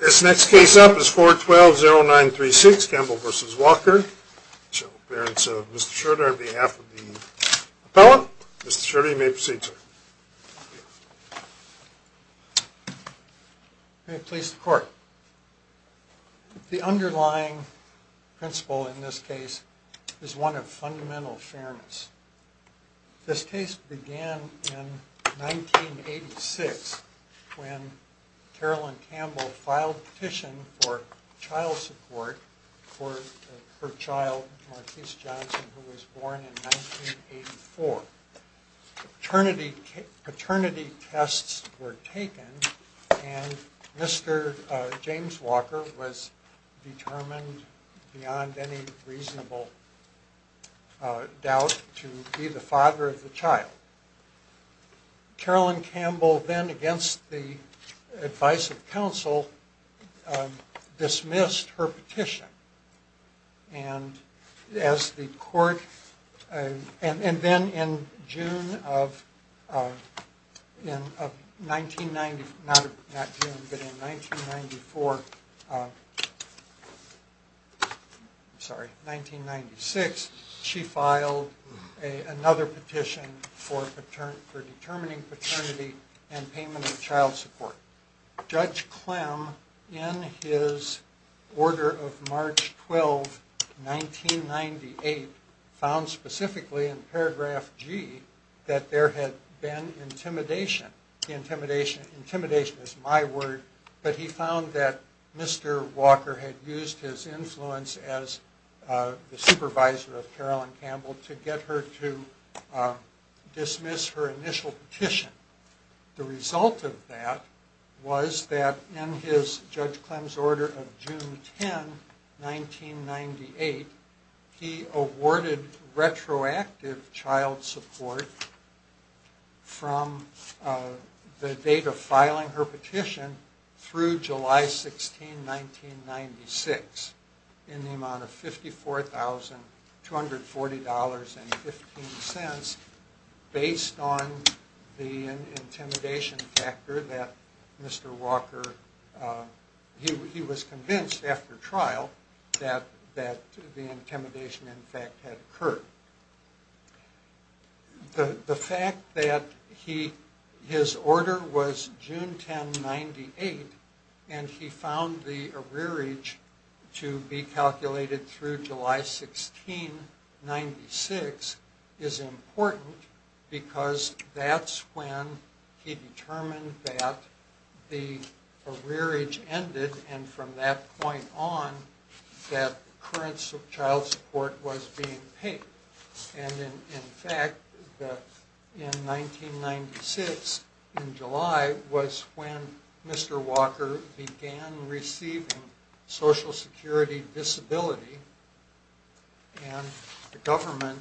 This next case up is 412-0936, Campbell v. Walker, the parents of Mr. Schroeder. On behalf of the appellant, Mr. Schroeder, you may proceed, sir. May it please the court. The underlying principle in this case is one of fundamental fairness. This case began in 1986 when Carolyn Campbell filed a petition for child support for her child, Marquise Johnson, who was born in 1984. Paternity tests were taken and Mr. James Walker was determined beyond any reasonable doubt to be the father of the child. Carolyn Campbell then, against the advice of counsel, dismissed her petition. And then in June of 1994, I'm sorry, 1996, she filed another petition for determining paternity and payment of child support. Judge Clem, in his order of March 12, 1998, found specifically in paragraph G that there had been intimidation. Intimidation is my word. But he found that Mr. Walker had used his influence as the supervisor of Carolyn Campbell to get her to dismiss her initial petition. The result of that was that in Judge Clem's order of June 10, 1998, he awarded retroactive child support from the date of filing her petition through July 16, 1996, in the amount of $54,240.15 based on the intimidation factor that Mr. Walker, he was convinced after trial that the intimidation in fact had occurred. The fact that his order was June 10, 1998 and he found the arrearage to be calculated through July 16, 1996 is important because that's when he determined that the arrearage ended and from that point on that current child support was being paid. And in fact, in 1996, in July, was when Mr. Walker began receiving Social Security disability and the government,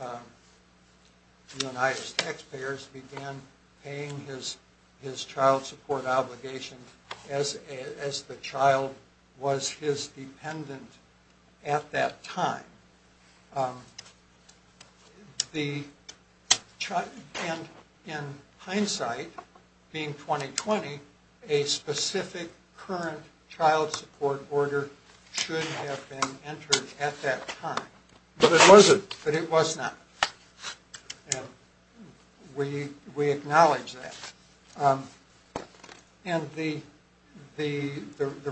the United Taxpayers, began paying his child support obligation as the child was his dependent at that time. And in hindsight, being 2020, a specific current child support order should have been entered at that time. But it wasn't. But it was not. We acknowledge that. And the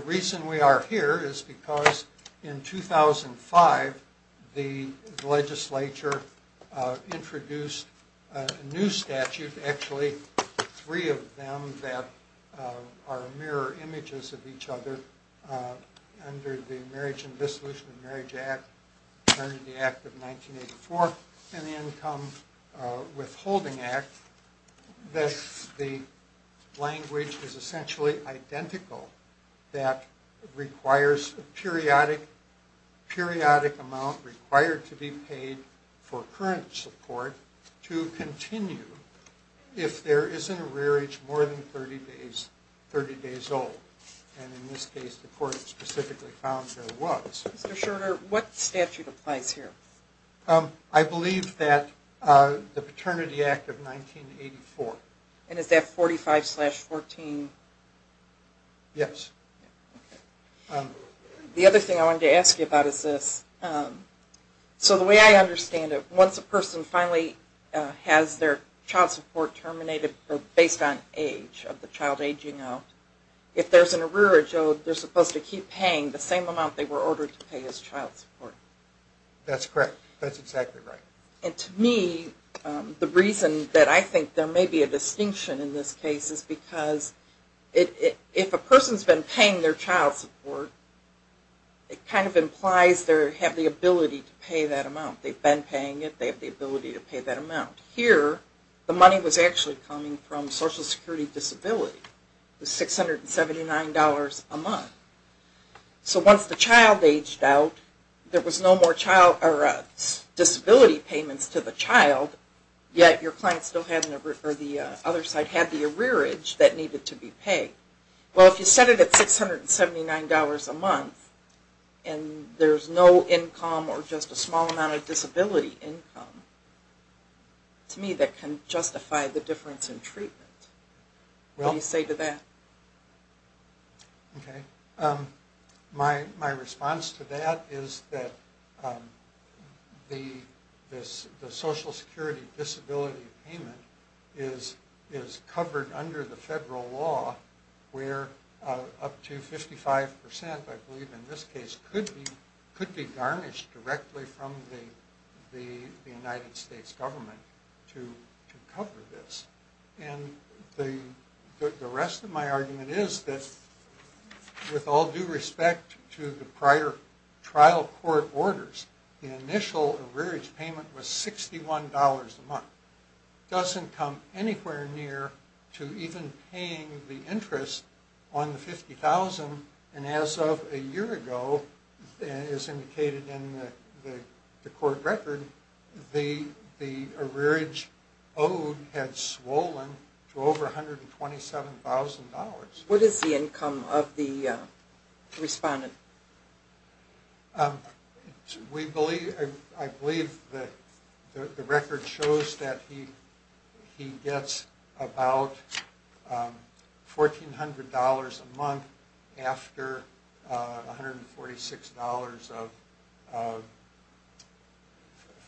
reason we are here is because in 2005, the legislature introduced a new statute, actually three of them that are mirror images of each other under the Marriage and Dissolution of Marriage Act, under the Act of 1984 and the Income Withholding Act, that the language is essentially identical. That requires a periodic amount required to be paid for current support to continue if there is an arrearage more than 30 days old. And in this case, the court specifically found there was. Mr. Schroeder, what statute applies here? I believe that the Paternity Act of 1984. And is that 45 slash 14? Yes. The other thing I wanted to ask you about is this. So the way I understand it, once a person finally has their child support terminated based on age, of the child aging out, if there's an arrearage owed, they're supposed to keep paying the same amount they were ordered to pay as child support. That's correct. That's exactly right. And to me, the reason that I think there may be a distinction in this case is because if a person's been paying their child support, it kind of implies they have the ability to pay that amount. They've been paying it. They have the ability to pay that amount. Here, the money was actually coming from Social Security disability. It was $679 a month. So once the child aged out, there was no more disability payments to the child, yet your client still had the arrearage that needed to be paid. Well, if you set it at $679 a month and there's no income or just a small amount of disability income, to me that can justify the difference in treatment. What do you say to that? Okay. My response to that is that the Social Security disability payment is covered under the federal law where up to 55%, I believe in this case, could be garnished directly from the United States government to cover this. And the rest of my argument is that with all due respect to the prior trial court orders, the initial arrearage payment was $61 a month. It doesn't come anywhere near to even paying the interest on the $50,000. And as of a year ago, as indicated in the court record, the arrearage owed had swollen to over $127,000. What is the income of the respondent? I believe the record shows that he gets about $1,400 a month after $146 of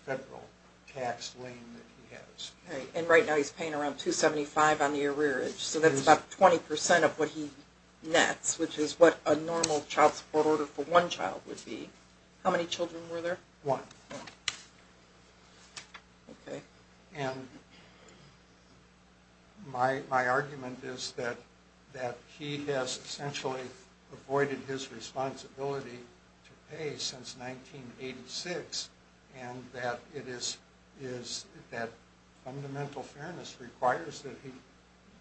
federal tax lien that he has. And right now he's paying around $275 on the arrearage, so that's about 20% of what he nets, which is what a normal child support order for one child would be. How many children were there? One. Okay. And my argument is that he has essentially avoided his responsibility to pay since 1986, and that fundamental fairness requires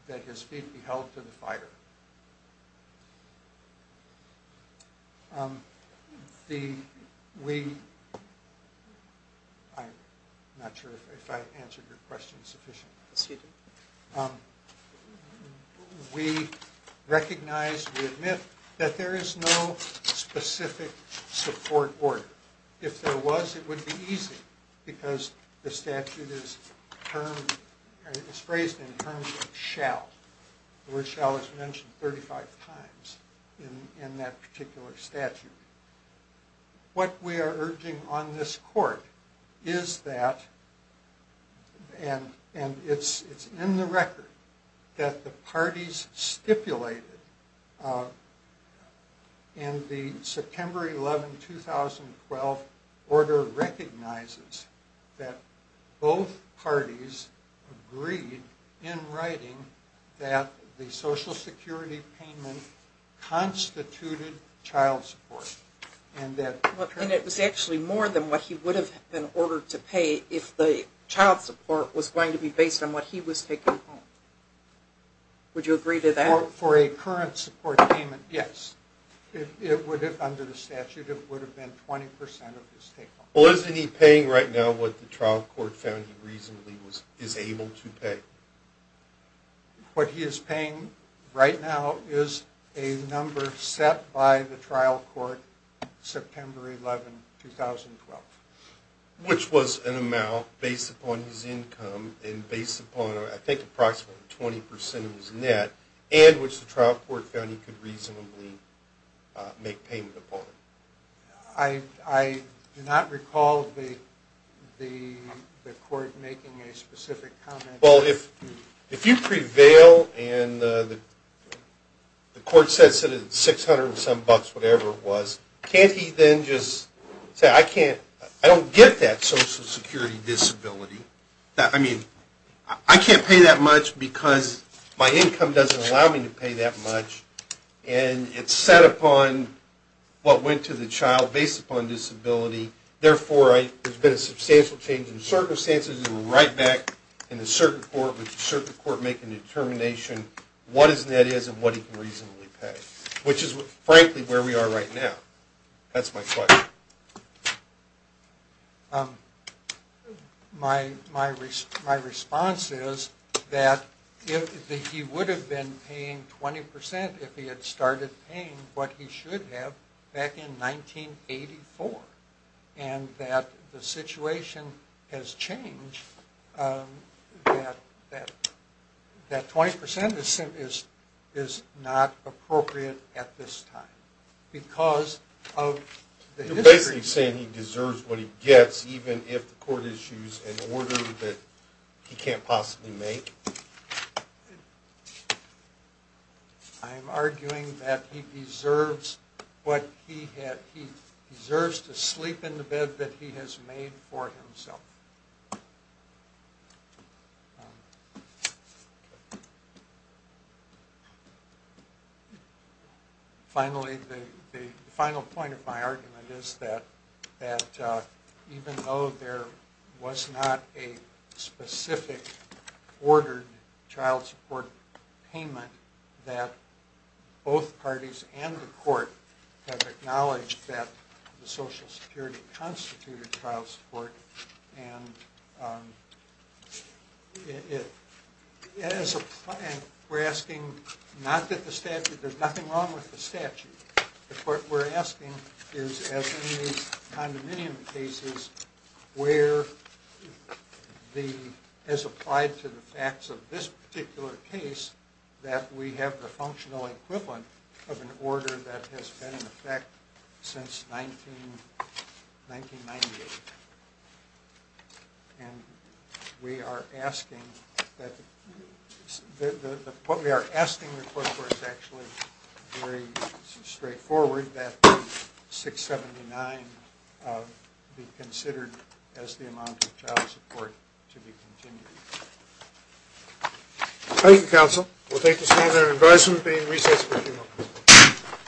that his feet be held to the fire. I'm not sure if I answered your question sufficiently. Yes, you did. We recognize, we admit, that there is no specific support order. If there was, it would be easy, because the statute is phrased in terms of shall. The word shall is mentioned 35 times in that particular statute. What we are urging on this court is that, and it's in the record, that the parties stipulated in the September 11, 2012 order recognizes that both parties agreed in writing that the Social Security payment constituted child support. And it was actually more than what he would have been ordered to pay if the child support was going to be based on what he was taking home. Would you agree to that? For a current support payment, yes. Under the statute, it would have been 20% of his take-home. Well, isn't he paying right now what the trial court found he reasonably is able to pay? What he is paying right now is a number set by the trial court September 11, 2012. Which was an amount based upon his income and based upon, I think, approximately 20% of his net, and which the trial court found he could reasonably make payment upon. I do not recall the court making a specific comment. Well, if you prevail and the court says it's 600 and some bucks, whatever it was, can't he then just say, I don't get that Social Security disability. I mean, I can't pay that much because my income doesn't allow me to pay that much, and it's set upon what went to the child based upon disability. Therefore, there's been a substantial change in circumstances, and we're right back in the circuit court with the circuit court making a determination what his net is and what he can reasonably pay, which is frankly where we are right now. That's my question. My response is that he would have been paying 20% if he had started paying what he should have back in 1984, and that the situation has changed. That 20% is not appropriate at this time because of the history. You're basically saying he deserves what he gets even if the court issues an order that he can't possibly make? I'm arguing that he deserves to sleep in the bed that he has made for himself. Finally, the final point of my argument is that even though there was not a specific order for child support payment that both parties and the court have acknowledged that the Social Security constituted child support, and we're asking not that there's nothing wrong with the statute. What we're asking is, as in these condominium cases, where as applied to the facts of this particular case, that we have the functional equivalent of an order that has been in effect since 1998. And what we are asking the court for is actually very straightforward, that 679 be considered as the amount of child support to be continued. Thank you, counsel. We'll take this meeting to an end.